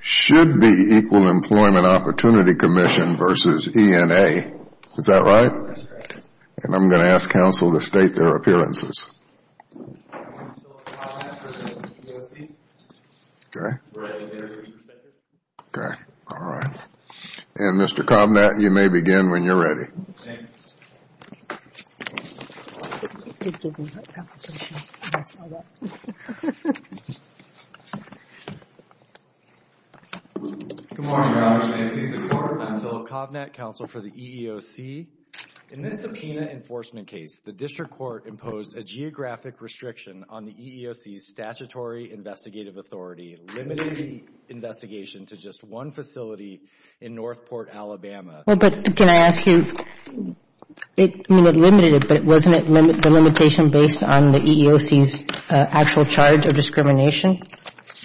should be Equal Employment Opportunity Commission v. ENA, is that right? That's correct. And I'm going to ask counsel to state their appearances. I'm going to say I'll have the U.S.E. Okay. Right. Okay. All right. And Mr. Kovnat, you may begin when you're ready. Okay. Good morning, Your Honor. Your name please. I'm Philip Kovnat, counsel for the EEOC. In this subpoena enforcement case, the district court imposed a geographic restriction on the EEOC's statutory investigative authority, limiting the investigation to just one facility in Northport, Alabama. Well, but can I ask you, it limited it, but wasn't it the limitation based on the EEOC's actual charge of discrimination?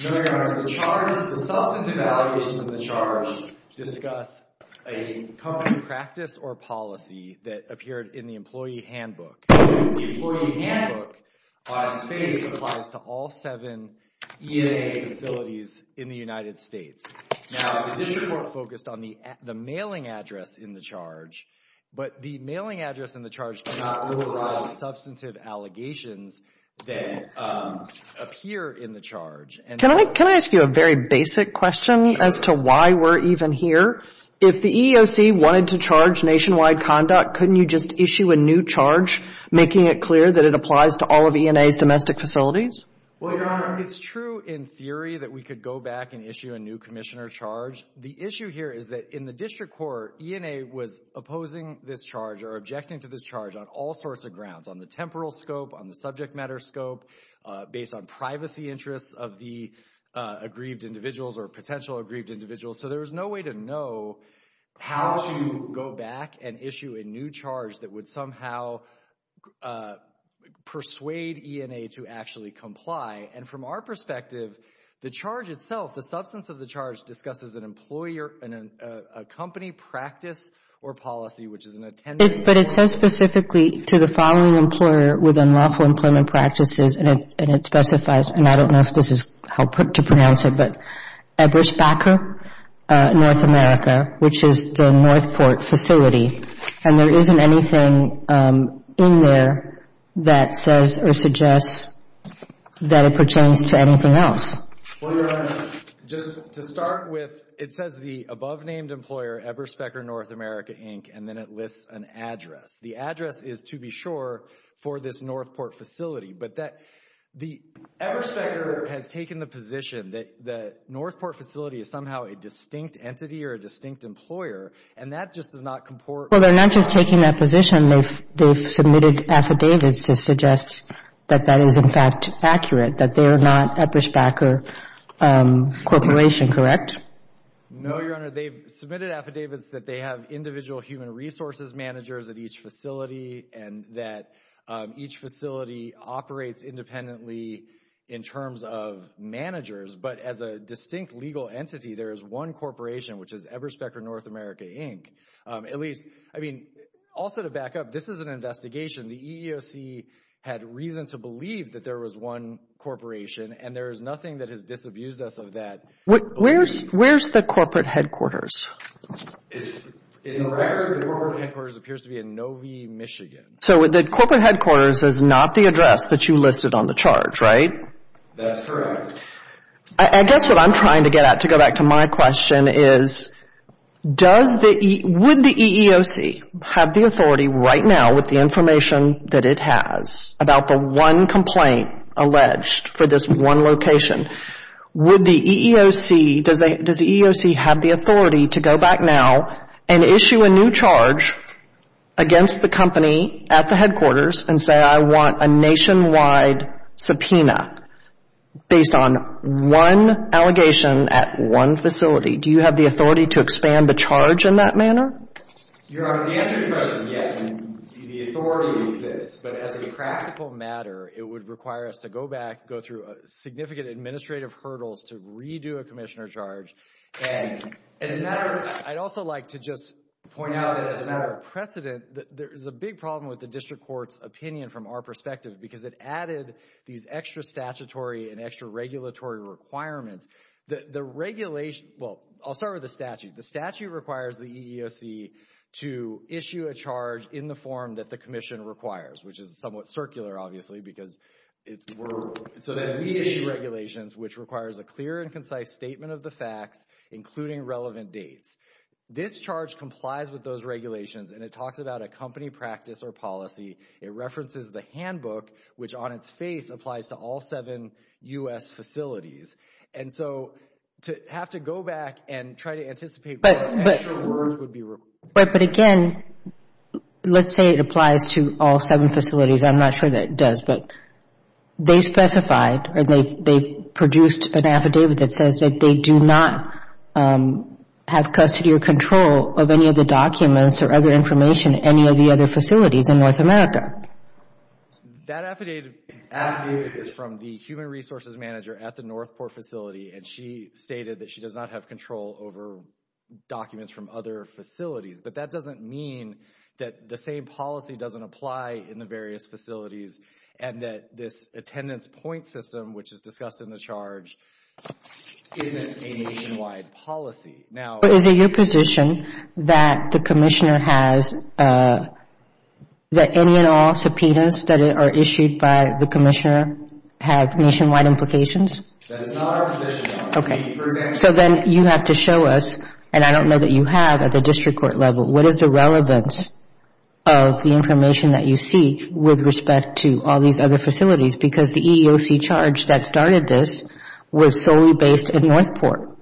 No, Your Honor. The substantive allegations in the charge discuss a company practice or policy that appeared in the employee handbook. The employee handbook, by its face, applies to all seven ENA facilities in the United States. Now, the district court focused on the mailing address in the charge, but the mailing address in the charge did not override substantive allegations that appear in the charge. Can I ask you a very basic question as to why we're even here? If the EEOC wanted to charge nationwide conduct, couldn't you just issue a new charge, making it clear that it applies to all of ENA's domestic facilities? Well, Your Honor, it's true in theory that we could go back and issue a new commissioner charge. The issue here is that in the district court, ENA was opposing this charge or objecting to this charge on all sorts of grounds, on the temporal scope, on the subject matter scope, based on privacy interests of the aggrieved individuals or potential aggrieved individuals. So there was no way to know how to go back and issue a new charge that would somehow persuade ENA to actually comply. And from our perspective, the charge itself, the substance of the charge discusses an employer, a company, practice, or policy, which is an attendance. But it says specifically to the following employer within lawful employment practices, and it specifies, and I don't know if this is how to pronounce it, but Eberspacher North America, which is the Northport facility. And there isn't anything in there that says or suggests that it pertains to anything else. Well, Your Honor, just to start with, it says the above-named employer, Eberspacher North America, Inc., and then it lists an address. The address is, to be sure, for this Northport facility. But the Eberspacher has taken the position that the Northport facility is somehow a distinct entity or a distinct employer, and that just does not comport. Well, they're not just taking that position. They've submitted affidavits to suggest that that is, in fact, accurate, that they are not Eberspacher Corporation, correct? No, Your Honor. They've submitted affidavits that they have individual human resources managers at each facility and that each facility operates independently in terms of managers. But as a distinct legal entity, there is one corporation, which is Eberspacher North America, Inc. At least, I mean, also to back up, this is an investigation. The EEOC had reason to believe that there was one corporation, and there is nothing that has disabused us of that. Where's the corporate headquarters? In the record, the corporate headquarters appears to be in Novi, Michigan. So the corporate headquarters is not the address that you listed on the charge, right? That's correct. I guess what I'm trying to get at, to go back to my question, is would the EEOC have the authority right now, with the information that it has about the one complaint alleged for this one location, would the EEOC have the authority to go back now and issue a new charge against the company at the headquarters and say, I want a nationwide subpoena based on one allegation at one facility? Do you have the authority to expand the charge in that manner? Your Honor, the answer to your question is yes, and the authority exists. But as a practical matter, it would require us to go back, go through significant administrative hurdles to redo a commissioner charge. And as a matter of fact, I'd also like to just point out that as a matter of precedent, there is a big problem with the district court's opinion from our perspective because it added these extra statutory and extra regulatory requirements. The regulation, well, I'll start with the statute. The statute requires the EEOC to issue a charge in the form that the commission requires, which is somewhat circular, obviously, because it were, so that we issue regulations which requires a clear and concise statement of the facts, including relevant dates. This charge complies with those regulations, and it talks about a company practice or policy. It references the handbook, which on its face applies to all seven U.S. facilities. And so to have to go back and try to anticipate what extra words would be required. But again, let's say it applies to all seven facilities. I'm not sure that it does, but they specified or they produced an affidavit that says that they do not have custody or control of any of the documents or other information at any of the other facilities in North America. That affidavit is from the human resources manager at the Northport facility, and she stated that she does not have control over documents from other facilities. But that doesn't mean that the same policy doesn't apply in the various facilities and that this attendance point system, which is discussed in the charge, isn't a nationwide policy. Now. But is it your position that the commissioner has that any and all subpoenas that are issued by the commissioner have nationwide implications? That is not our position. Okay. So then you have to show us, and I don't know that you have at the district court level, what is the relevance of the information that you seek with respect to all these other facilities, because the EEOC charge that started this was solely based at Northport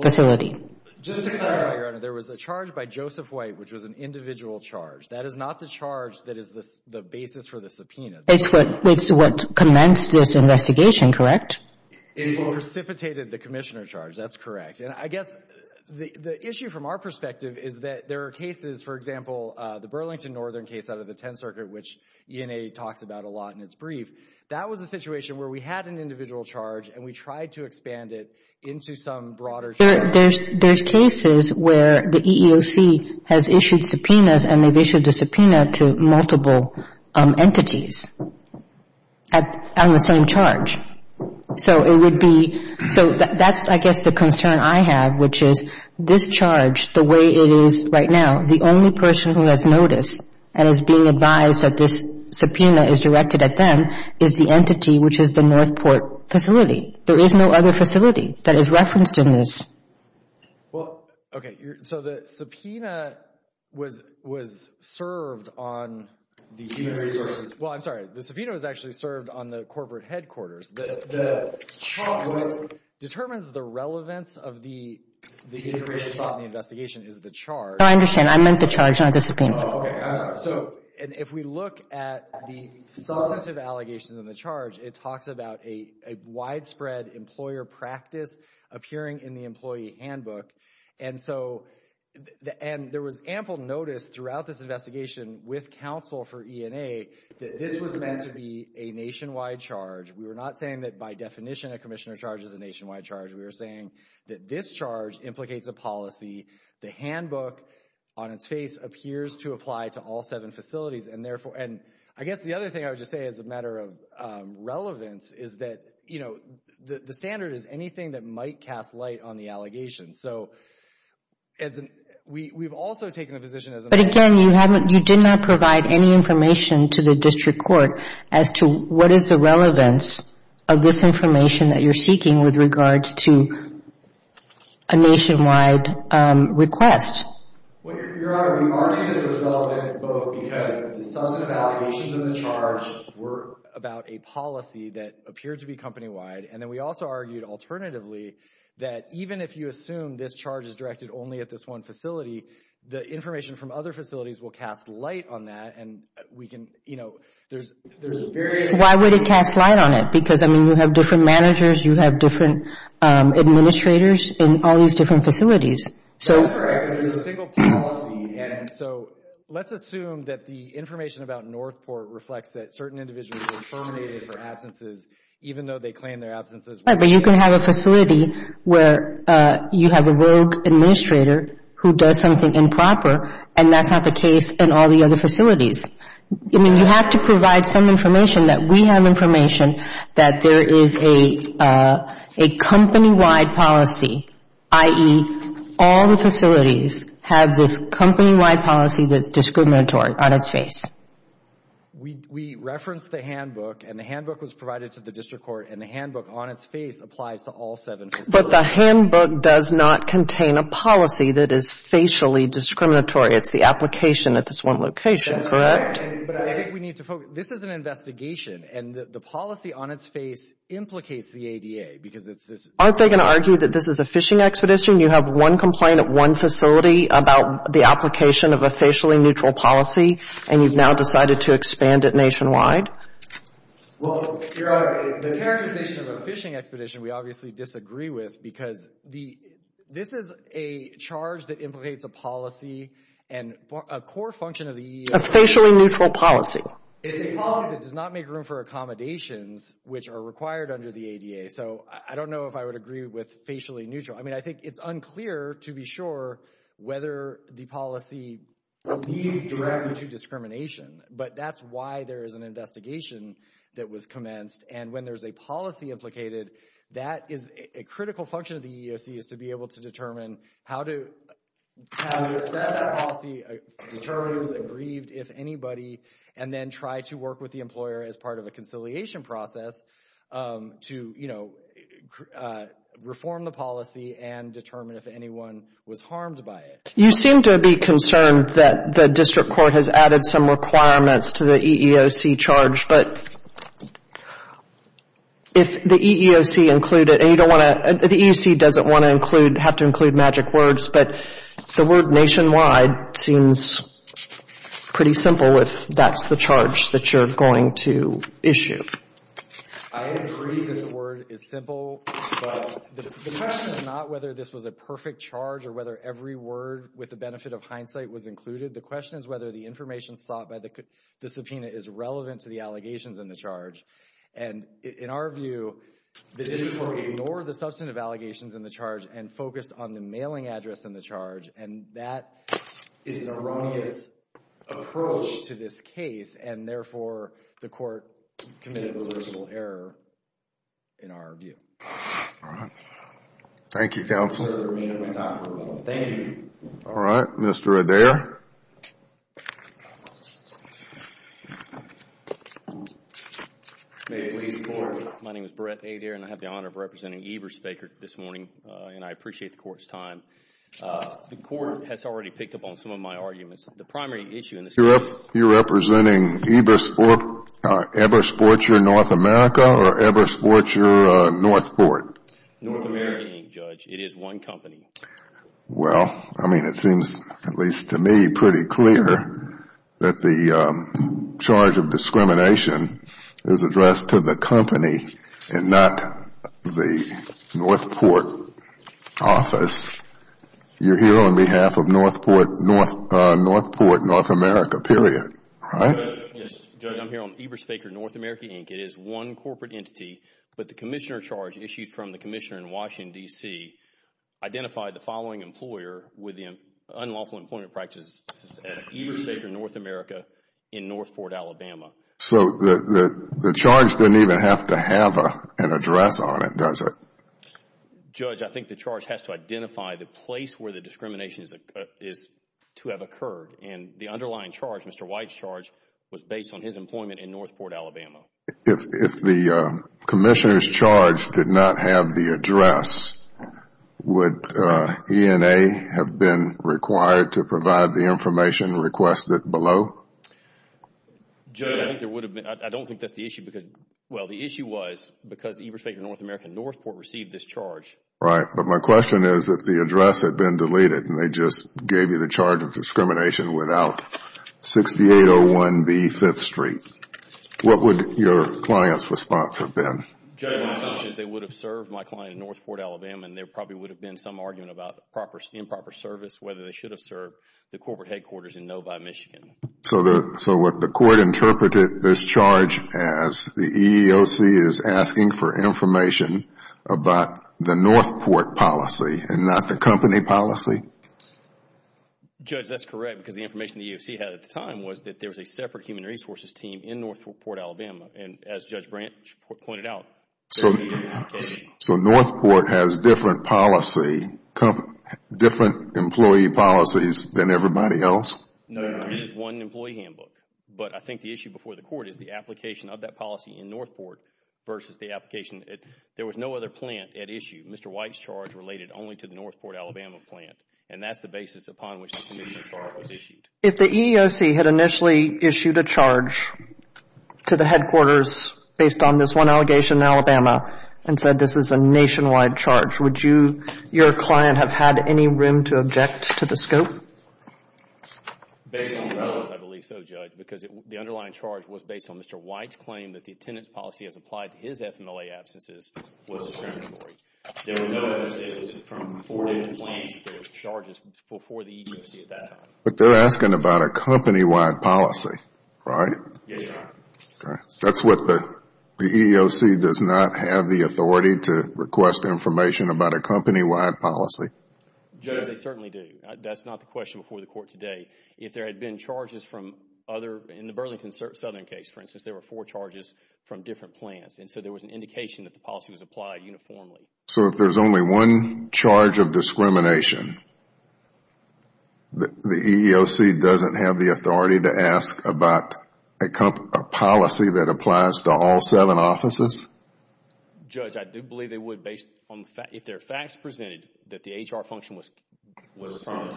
facility. Just to clarify, Your Honor, there was a charge by Joseph White, which was an individual charge. That is not the charge that is the basis for the subpoena. It's what commenced this investigation, correct? It precipitated the commissioner charge. That's correct. And I guess the issue from our perspective is that there are cases, for example, the Burlington Northern case out of the 10th Circuit, which ENA talks about a lot in its brief. That was a situation where we had an individual charge and we tried to expand it into some broader charge. There's cases where the EEOC has issued subpoenas and they've issued a subpoena to multiple entities on the same charge. So it would be, so that's I guess the concern I have, which is this charge, the way it is right now, the only person who has noticed and is being advised that this subpoena is directed at them is the entity, which is the Northport facility. There is no other facility that is referenced in this. Well, okay. So the subpoena was served on the EEOC. Well, I'm sorry. The subpoena was actually served on the corporate headquarters. The charge that determines the relevance of the information in the investigation is the charge. No, I understand. I meant the charge, not the subpoena. Oh, okay. I'm sorry. So, and if we look at the substantive allegations in the charge, it talks about a widespread employer practice appearing in the employee handbook. And so, and there was ample notice throughout this investigation with counsel for ENA that this was meant to be a nationwide charge. We were not saying that by definition a commissioner charge is a nationwide charge. We were saying that this charge implicates a policy. The handbook on its face appears to apply to all seven facilities. And therefore, and I guess the other thing I would just say as a matter of relevance is that, you know, the standard is anything that might cast light on the allegations. So, as an, we've also taken the position as an You did not provide any information to the district court as to what is the relevance of this information that you're seeking with regards to a nationwide request. Well, Your Honor, we argued that it was relevant both because the substantive allegations in the charge were about a policy that appeared to be company-wide. And then we also argued alternatively that even if you assume this charge is directed only at this one facility, the information from other facilities will cast light on that. And we can, you know, there's various Why would it cast light on it? Because, I mean, you have different managers, you have different administrators in all these different facilities. That's correct, but there's a single policy. And so, let's assume that the information about Northport reflects that certain individuals were terminated for absences, even though they claim their absences. Right, but you can have a facility where you have a rogue administrator who does something improper and that's not the case in all the other facilities. I mean, you have to provide some information that we have information that there is a company-wide policy, i.e., all the facilities have this company-wide policy that's discriminatory on its face. We referenced the handbook and the handbook was provided to the district court and the handbook on its face applies to all seven facilities. But the handbook does not contain a policy that is facially discriminatory. It's the application at this one location, correct? That's correct, but I think we need to focus. This is an investigation and the policy on its face implicates the ADA because it's this Aren't they going to argue that this is a phishing expedition? You have one complaint at one facility about the application of a facially neutral policy and you've now decided to expand it nationwide? Well, the characterization of a phishing expedition we obviously disagree with because this is a charge that implicates a policy and a core function of the EEOC A facially neutral policy. It's a policy that does not make room for accommodations which are required under the ADA. So I don't know if I would agree with facially neutral. I mean, I think it's unclear to be sure whether the policy leads directly to discrimination, but that's why there is an investigation that was commenced. And when there's a policy implicated, that is a critical function of the EEOC is to be able to determine how to assess that policy, determine who's aggrieved, if anybody, and then try to work with the employer as part of a conciliation process to, you know, reform the policy and determine if anyone was harmed by it. You seem to be concerned that the district court has added some requirements to the EEOC charge, but if the EEOC included, and you don't want to, the EEOC doesn't want to include, have to include magic words, but the word nationwide seems pretty simple if that's the charge that you're going to issue. I agree that the word is simple, but the question is not whether this was a perfect charge or whether every word with the benefit of hindsight was included. The question is whether the information sought by the subpoena is relevant to the allegations in the charge. And in our view, the district court ignored the substantive allegations in the charge and focused on the mailing address in the charge, and that is an erroneous approach to this case, and therefore, the court committed a litigable error in our view. All right. Thank you, counsel. Sir, the remainder of my time is over. Thank you. All right. Mr. Adair. May it please the Court. My name is Brett Adair, and I have the honor of representing Eberspachert this morning, The court has already picked up on some of my arguments. The primary issue in this case is You're representing Eberspachert North America or Eberspachert Northport? North American, Judge. It is one company. Well, I mean, it seems at least to me pretty clear that the charge of discrimination is addressed to the company and not the Northport office. You're here on behalf of Northport North America, period, right? Yes, Judge. I'm here on Eberspachert North America, Inc. It is one corporate entity, but the commissioner charge issued from the commissioner in Washington, D.C. identified the following employer with unlawful employment practices as Eberspachert North America in Northport, Alabama. So the charge didn't even have to have an address on it, does it? Judge, I think the charge has to identify the place where the discrimination is to have occurred, and the underlying charge, Mr. White's charge, was based on his employment in Northport, Alabama. If the commissioner's charge did not have the address, would ENA have been required to provide the information requested below? Judge, I don't think that's the issue. Well, the issue was because Eberspachert North America in Northport received this charge. Right, but my question is if the address had been deleted and they just gave you the charge of discrimination without 6801B 5th Street, what would your client's response have been? They would have served my client in Northport, Alabama, and there probably would have been some argument about improper service, whether they should have served the corporate headquarters in Novi, Michigan. So what the court interpreted this charge as, the EEOC is asking for information about the Northport policy and not the company policy? Judge, that's correct because the information the EEOC had at the time was that there was a separate human resources team in Northport, Alabama, and as Judge Branch pointed out, there would be an implication. So Northport has different policy, different employee policies than everybody else? No, there is one employee handbook, but I think the issue before the court is the application of that policy in Northport versus the application. There was no other plant at issue. Mr. White's charge related only to the Northport, Alabama plant, and that's the basis upon which the commission charge was issued. If the EEOC had initially issued a charge to the headquarters based on this one allegation in Alabama and said this is a nationwide charge, would your client have had any room to object to the scope? Based on the notice, I believe so, Judge, because the underlying charge was based on Mr. White's claim that the attendance policy as applied to his FMLA absences was discriminatory. There were no other charges before the EEOC at that time. But they're asking about a company-wide policy, right? Yes, Your Honor. That's what the EEOC does not have the authority to request information about a company-wide policy. Judge, they certainly do. That's not the question before the court today. If there had been charges from other, in the Burlington Southern case, for instance, there were four charges from different plants, and so there was an indication that the policy was applied uniformly. So if there's only one charge of discrimination, the EEOC doesn't have the authority to ask about a policy that applies to all seven offices? Judge, I do believe they would. If their facts presented that the HR function was from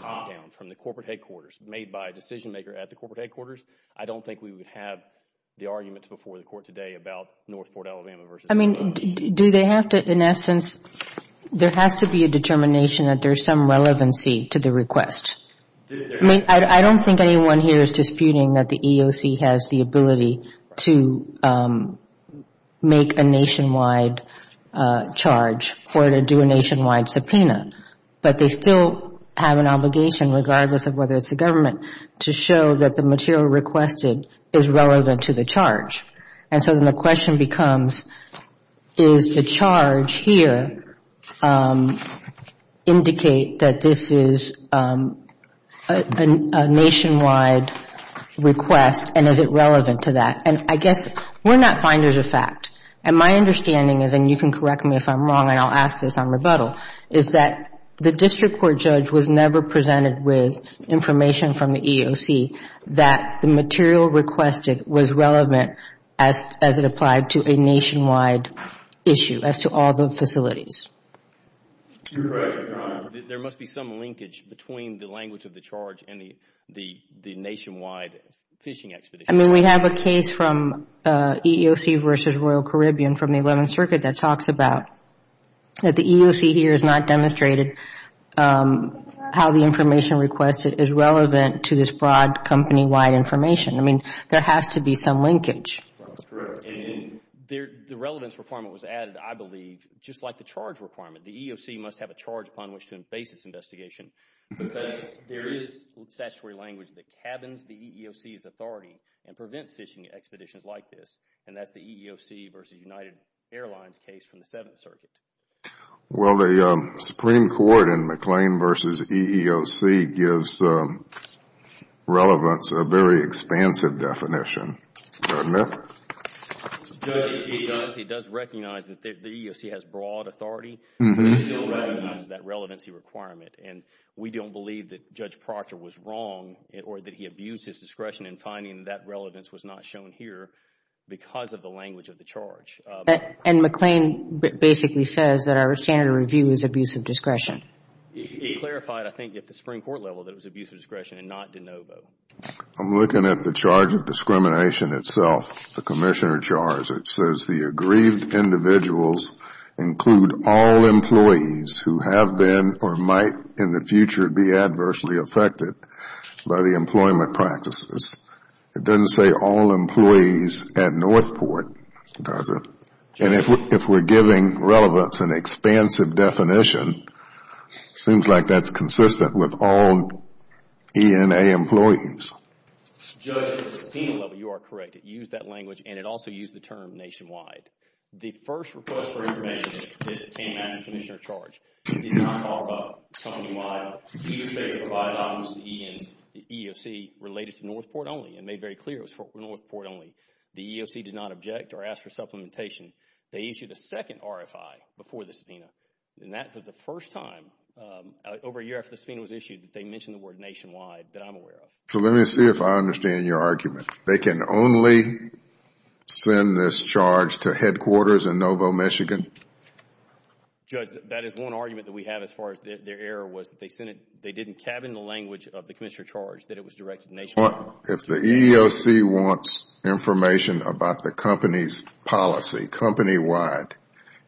the corporate headquarters, made by a decision-maker at the corporate headquarters, I don't think we would have the arguments before the court today about Northport, Alabama versus Alabama. Do they have to, in essence, There has to be a determination that there's some relevancy to the request. I mean, I don't think anyone here is disputing that the EEOC has the ability to make a nationwide charge or to do a nationwide subpoena. But they still have an obligation, regardless of whether it's the government, to show that the material requested is relevant to the charge. And so then the question becomes, is the charge here indicate that this is a nationwide request, and is it relevant to that? And I guess we're not finders of fact, and my understanding is, and you can correct me if I'm wrong and I'll ask this on rebuttal, is that the district court judge was never presented with information from the EEOC that the material requested was relevant as it applied to a nationwide issue as to all the facilities. You're correct, Your Honor. There must be some linkage between the language of the charge and the nationwide fishing expedition. I mean, we have a case from EEOC versus Royal Caribbean from the 11th Circuit that talks about that the EEOC here has not demonstrated how the information requested is relevant to this broad company-wide information. I mean, there has to be some linkage. That's correct. And the relevance requirement was added, I believe, just like the charge requirement. The EEOC must have a charge upon which to base its investigation because there is statutory language that cabins the EEOC's authority and prevents fishing expeditions like this, and that's the EEOC versus United Airlines case from the 7th Circuit. Well, the Supreme Court in McLean versus EEOC gives relevance a very expansive definition. Do I admit? He does. He does recognize that the EEOC has broad authority, but he still recognizes that relevancy requirement, and we don't believe that Judge Proctor was wrong or that he abused his discretion in finding that relevance was not shown here because of the language of the charge. And McLean basically says that our standard review is abuse of discretion. He clarified, I think, at the Supreme Court level that it was abuse of discretion and not de novo. I'm looking at the charge of discrimination itself, the Commissioner charge. It says the aggrieved individuals include all employees who have been or might in the future be adversely affected by the employment practices. It doesn't say all employees at Northport, does it? And if we're giving relevance an expansive definition, it seems like that's consistent with all ENA employees. Judge, at the subpoena level, you are correct. It used that language, and it also used the term nationwide. The first request for information came after the Commissioner charge. It did not talk about company-wide. He just made it provide options to ENs. The EEOC related to Northport only and made very clear it was for Northport only. The EEOC did not object or ask for supplementation. They issued a second RFI before the subpoena, and that was the first time over a year after the subpoena was issued that they mentioned the word nationwide that I'm aware of. So let me see if I understand your argument. They can only send this charge to headquarters in Novo, Michigan? Judge, that is one argument that we have as far as their error was that they didn't cabin the language of the Commissioner charge that it was directed nationwide. If the EEOC wants information about the company's policy, company-wide,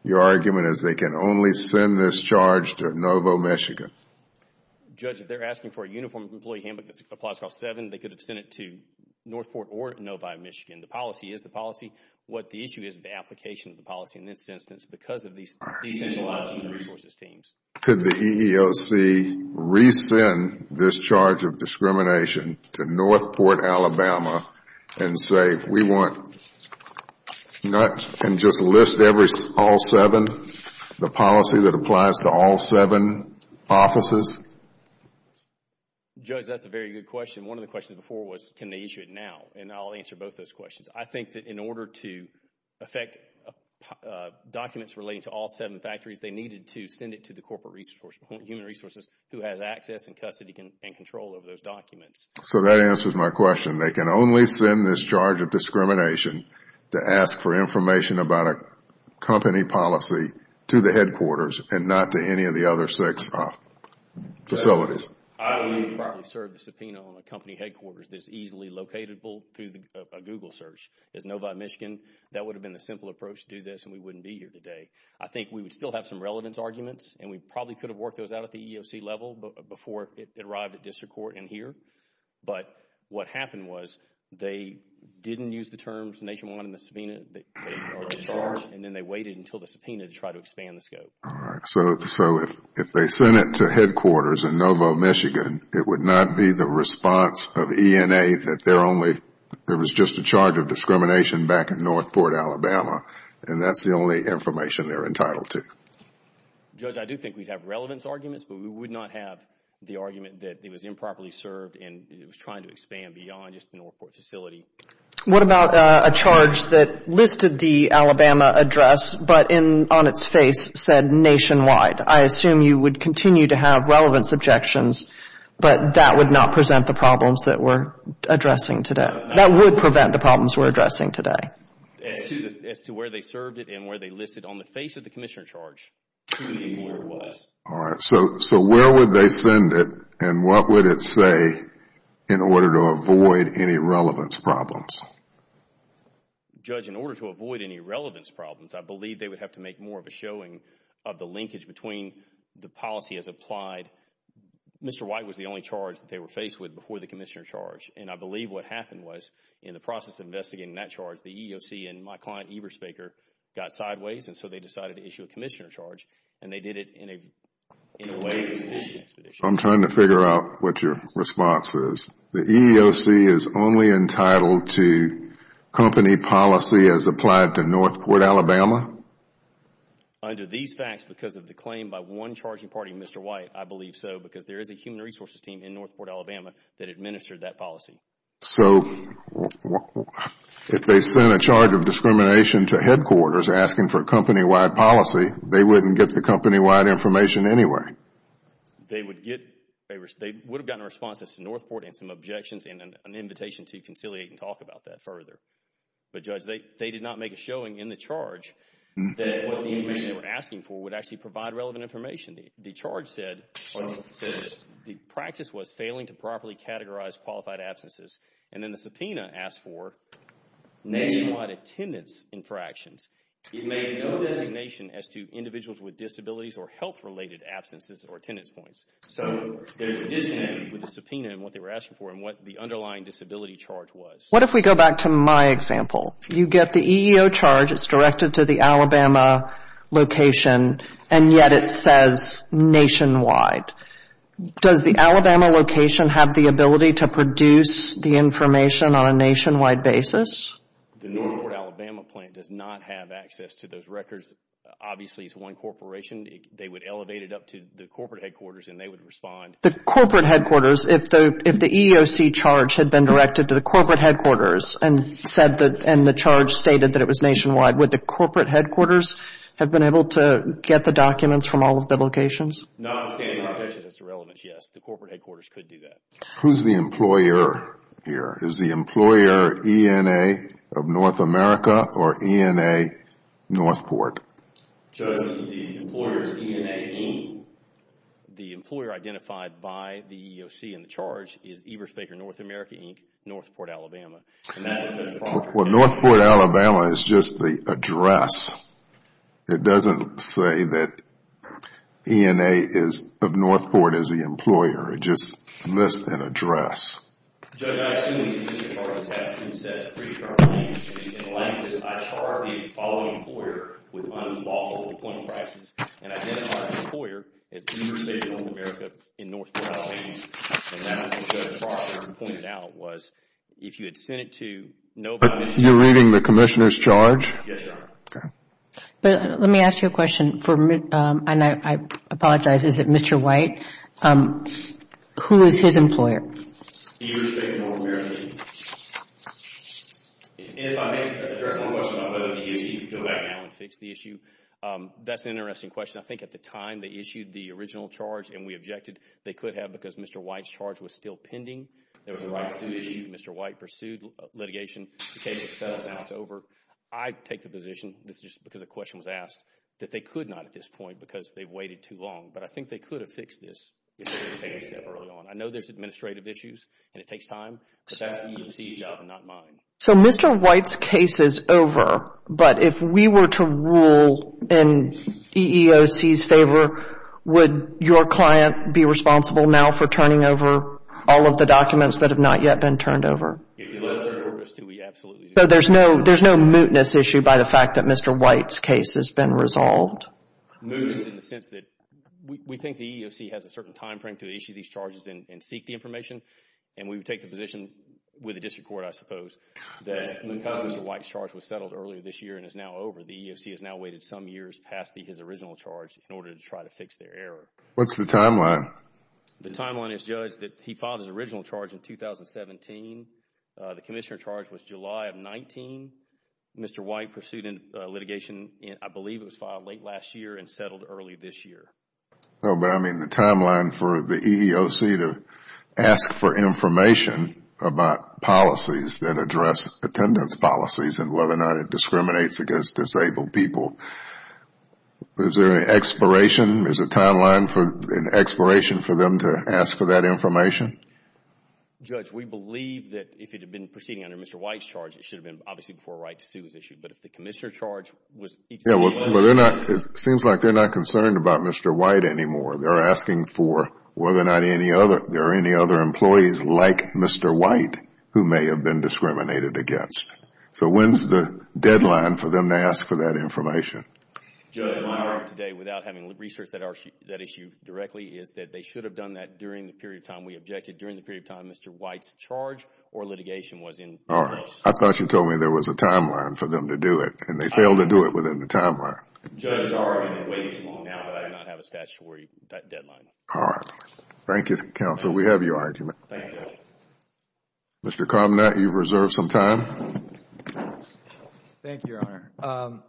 your argument is they can only send this charge to Novo, Michigan? Judge, if they're asking for a uniformed employee handbook that applies to all seven, they could have sent it to Northport or Novo, Michigan. The policy is the policy. What the issue is is the application of the policy, in this instance, because of these decentralized human resources teams. Could the EEOC resend this charge of discrimination to Northport, Alabama and say we want, and just list all seven, the policy that applies to all seven offices? Judge, that's a very good question. One of the questions before was can they issue it now? And I'll answer both those questions. I think that in order to affect documents relating to all seven factories, they needed to send it to the human resources who has access and custody and control over those documents. So that answers my question. They can only send this charge of discrimination to ask for information about a company policy to the headquarters and not to any of the other six facilities? I don't think they could have served the subpoena on a company headquarters that's easily locatable through a Google search. As Novo, Michigan, that would have been the simple approach to do this and we wouldn't be here today. I think we would still have some relevance arguments and we probably could have worked those out at the EEOC level before it arrived at district court and here. But what happened was they didn't use the terms nationwide in the subpoena that they charged and then they waited until the subpoena to try to expand the scope. All right. So if they sent it to headquarters in Novo, Michigan, it would not be the response of ENA that there was just a charge of discrimination back at Northport, Alabama, and that's the only information they're entitled to? Judge, I do think we'd have relevance arguments, but we would not have the argument that it was improperly served and it was trying to expand beyond just the Northport facility. What about a charge that listed the Alabama address but on its face said nationwide? I assume you would continue to have relevance objections, but that would not present the problems that we're addressing today. That would prevent the problems we're addressing today. As to where they served it and where they listed it, on the face of the commissioner charge, we didn't know where it was. All right. So where would they send it and what would it say in order to avoid any relevance problems? Judge, in order to avoid any relevance problems, I believe they would have to make more of a showing of the linkage between the policy as applied. Mr. White was the only charge that they were faced with before the commissioner charge, and I believe what happened was in the process of investigating that charge, the EEOC and my client Eberspacher got sideways, and so they decided to issue a commissioner charge, and they did it in a way that was an expeditious charge. I'm trying to figure out what your response is. The EEOC is only entitled to company policy as applied to Northport, Alabama? Under these facts, because of the claim by one charging party, Mr. White, I believe so because there is a human resources team in Northport, Alabama that administered that policy. So if they sent a charge of discrimination to headquarters asking for company-wide policy, they wouldn't get the company-wide information anyway? They would have gotten a response to Northport and some objections and an invitation to conciliate and talk about that further. But, Judge, they did not make a showing in the charge that what the information they were asking for would actually provide relevant information. The charge said the practice was failing to properly categorize qualified absences, and then the subpoena asked for nationwide attendance infractions. It made no designation as to individuals with disabilities or health-related absences or attendance points. So there's a disconnect with the subpoena and what they were asking for and what the underlying disability charge was. What if we go back to my example? You get the EEO charge. It's directed to the Alabama location, and yet it says nationwide. Does the Alabama location have the ability to produce the information on a nationwide basis? The Northport, Alabama plant does not have access to those records. Obviously, it's one corporation. They would elevate it up to the corporate headquarters, and they would respond. The corporate headquarters, if the EEOC charge had been directed to the corporate headquarters and the charge stated that it was nationwide, would the corporate headquarters have been able to get the documents from all of the locations? Notwithstanding the objections as to relevance, yes, the corporate headquarters could do that. Who's the employer here? Is the employer ENA of North America or ENA Northport? Judge, the employer is ENA, Inc. The employer identified by the EEOC in the charge is Eberspacher North America, Inc., Northport, Alabama. Well, Northport, Alabama is just the address. It doesn't say that ENA of Northport is the employer. It just lists an address. Judge, I assume the submission charges have been set free for our language. In the language, I charge the following employer with unlawful employment practices and identify the employer as Eberspacher North America, in Northport, Alabama. And that's what Judge Froster pointed out, was if you had sent it to nobody. You're reading the Commissioner's charge? Yes, Your Honor. Okay. Let me ask you a question, and I apologize. Is it Mr. White? Who is his employer? Eberspacher North America, Inc. And if I may address one question about whether the EEOC can go back now and fix the issue. That's an interesting question. I think at the time they issued the original charge and we objected. They could have because Mr. White's charge was still pending. There was a right to sue issue. Mr. White pursued litigation. The case is settled now. It's over. I take the position, this is just because a question was asked, that they could not at this point because they waited too long. But I think they could have fixed this if they had taken a step early on. I know there's administrative issues and it takes time, but that's the EEOC's job and not mine. So Mr. White's case is over. But if we were to rule in EEOC's favor, would your client be responsible now for turning over all of the documents that have not yet been turned over? If you let us do it, we absolutely do. So there's no mootness issue by the fact that Mr. White's case has been resolved? Mootness in the sense that we think the EEOC has a certain timeframe to issue these charges and seek the information, and we would take the position with the district court, I suppose, that because Mr. White's charge was settled earlier this year and is now over, the EEOC has now waited some years past his original charge in order to try to fix their error. What's the timeline? The timeline is, Judge, that he filed his original charge in 2017. The commissioner charge was July of 19. Mr. White pursued litigation, I believe it was filed late last year and settled early this year. No, but I mean the timeline for the EEOC to ask for information about policies that address attendance policies and whether or not it discriminates against disabled people. Is there an expiration? Is there a timeline for an expiration for them to ask for that information? Judge, we believe that if it had been proceeding under Mr. White's charge, it should have been obviously before Wright v. Sue was issued. But if the commissioner charge was each of the EEOC's charges. It seems like they're not concerned about Mr. White anymore. They're asking for whether or not there are any other employees like Mr. White who may have been discriminated against. So when's the deadline for them to ask for that information? Judge, my argument today, without having researched that issue directly, is that they should have done that during the period of time we objected, during the period of time Mr. White's charge or litigation was in progress. I thought you told me there was a timeline for them to do it, and they failed to do it within the timeline. Judge, it's already been way too long now. I do not have a statutory deadline. All right. Thank you, counsel. We have your argument. Thank you, Judge. Mr. Carmanat, you've reserved some time. Thank you, Your Honor.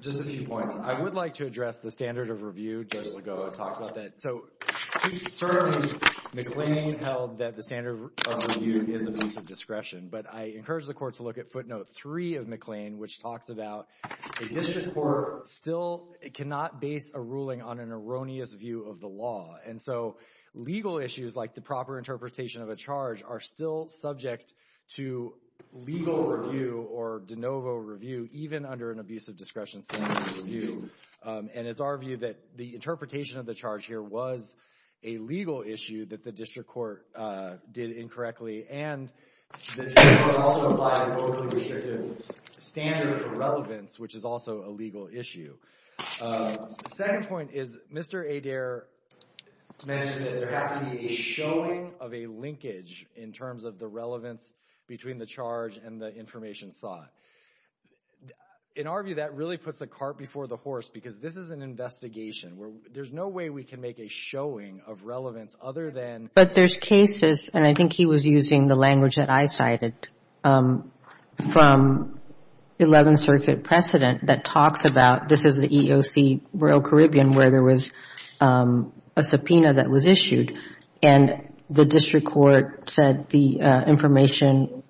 Just a few points. I would like to address the standard of review. Judge Legault talked about that. So certainly McLean held that the standard of review is a piece of discretion, but I encourage the court to look at footnote three of McLean which talks about a district court still cannot base a ruling on an erroneous view of the law. And so legal issues like the proper interpretation of a charge are still subject to legal review or de novo review, even under an abusive discretion standard of review. And it's our view that the interpretation of the charge here was a legal issue that the district court did incorrectly, and the district court also applied overly restrictive standards of relevance, which is also a legal issue. The second point is Mr. Adair mentioned that there has to be a showing of a linkage in terms of the relevance between the charge and the information sought. In our view, that really puts the cart before the horse because this is an investigation. There's no way we can make a showing of relevance other than But there's cases, and I think he was using the language that I cited, from 11th Circuit precedent that talks about, this is the EEOC Royal Caribbean where there was a subpoena that was issued, and the district court said the information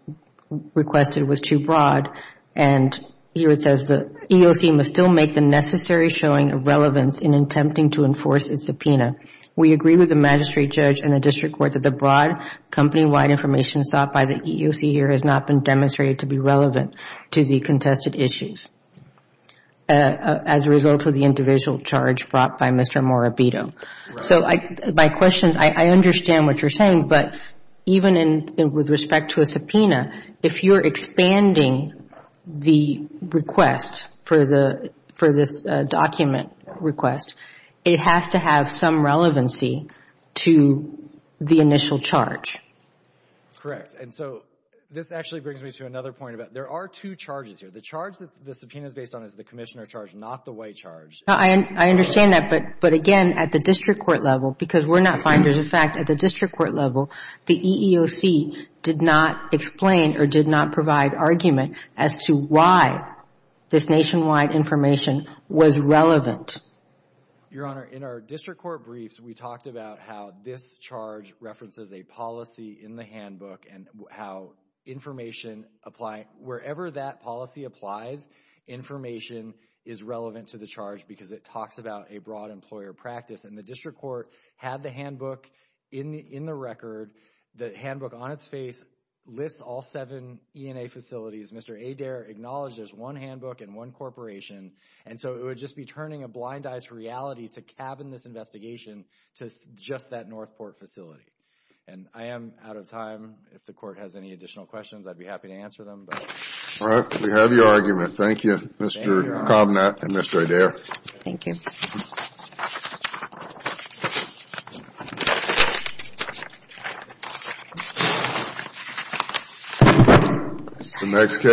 requested was too broad, and here it says the EEOC must still make the necessary showing of relevance in attempting to enforce its subpoena. We agree with the magistrate judge and the district court that the broad company-wide information sought by the EEOC here has not been demonstrated to be relevant to the contested issues as a result of the individual charge brought by Mr. Morabito. So my question is, I understand what you're saying, but even with respect to a subpoena, if you're expanding the request for this document request, it has to have some relevancy to the initial charge. Correct. And so this actually brings me to another point. There are two charges here. The charge that the subpoena is based on is the Commissioner charge, not the White charge. I understand that, but again, at the district court level, because we're not finders of fact, at the district court level, the EEOC did not explain or did not provide argument as to why this nationwide information was relevant. Your Honor, in our district court briefs, we talked about how this charge references a policy in the handbook and how information, wherever that policy applies, information is relevant to the charge because it talks about a broad employer practice, and the district court had the handbook in the record. The handbook on its face lists all seven E&A facilities. Mr. Adair acknowledged there's one handbook and one corporation, and so it would just be turning a blind eye to reality to cabin this investigation to just that Northport facility. And I am out of time. If the court has any additional questions, I'd be happy to answer them. All right. We have your argument. Thank you, Mr. Connatt and Mr. Adair. Thank you.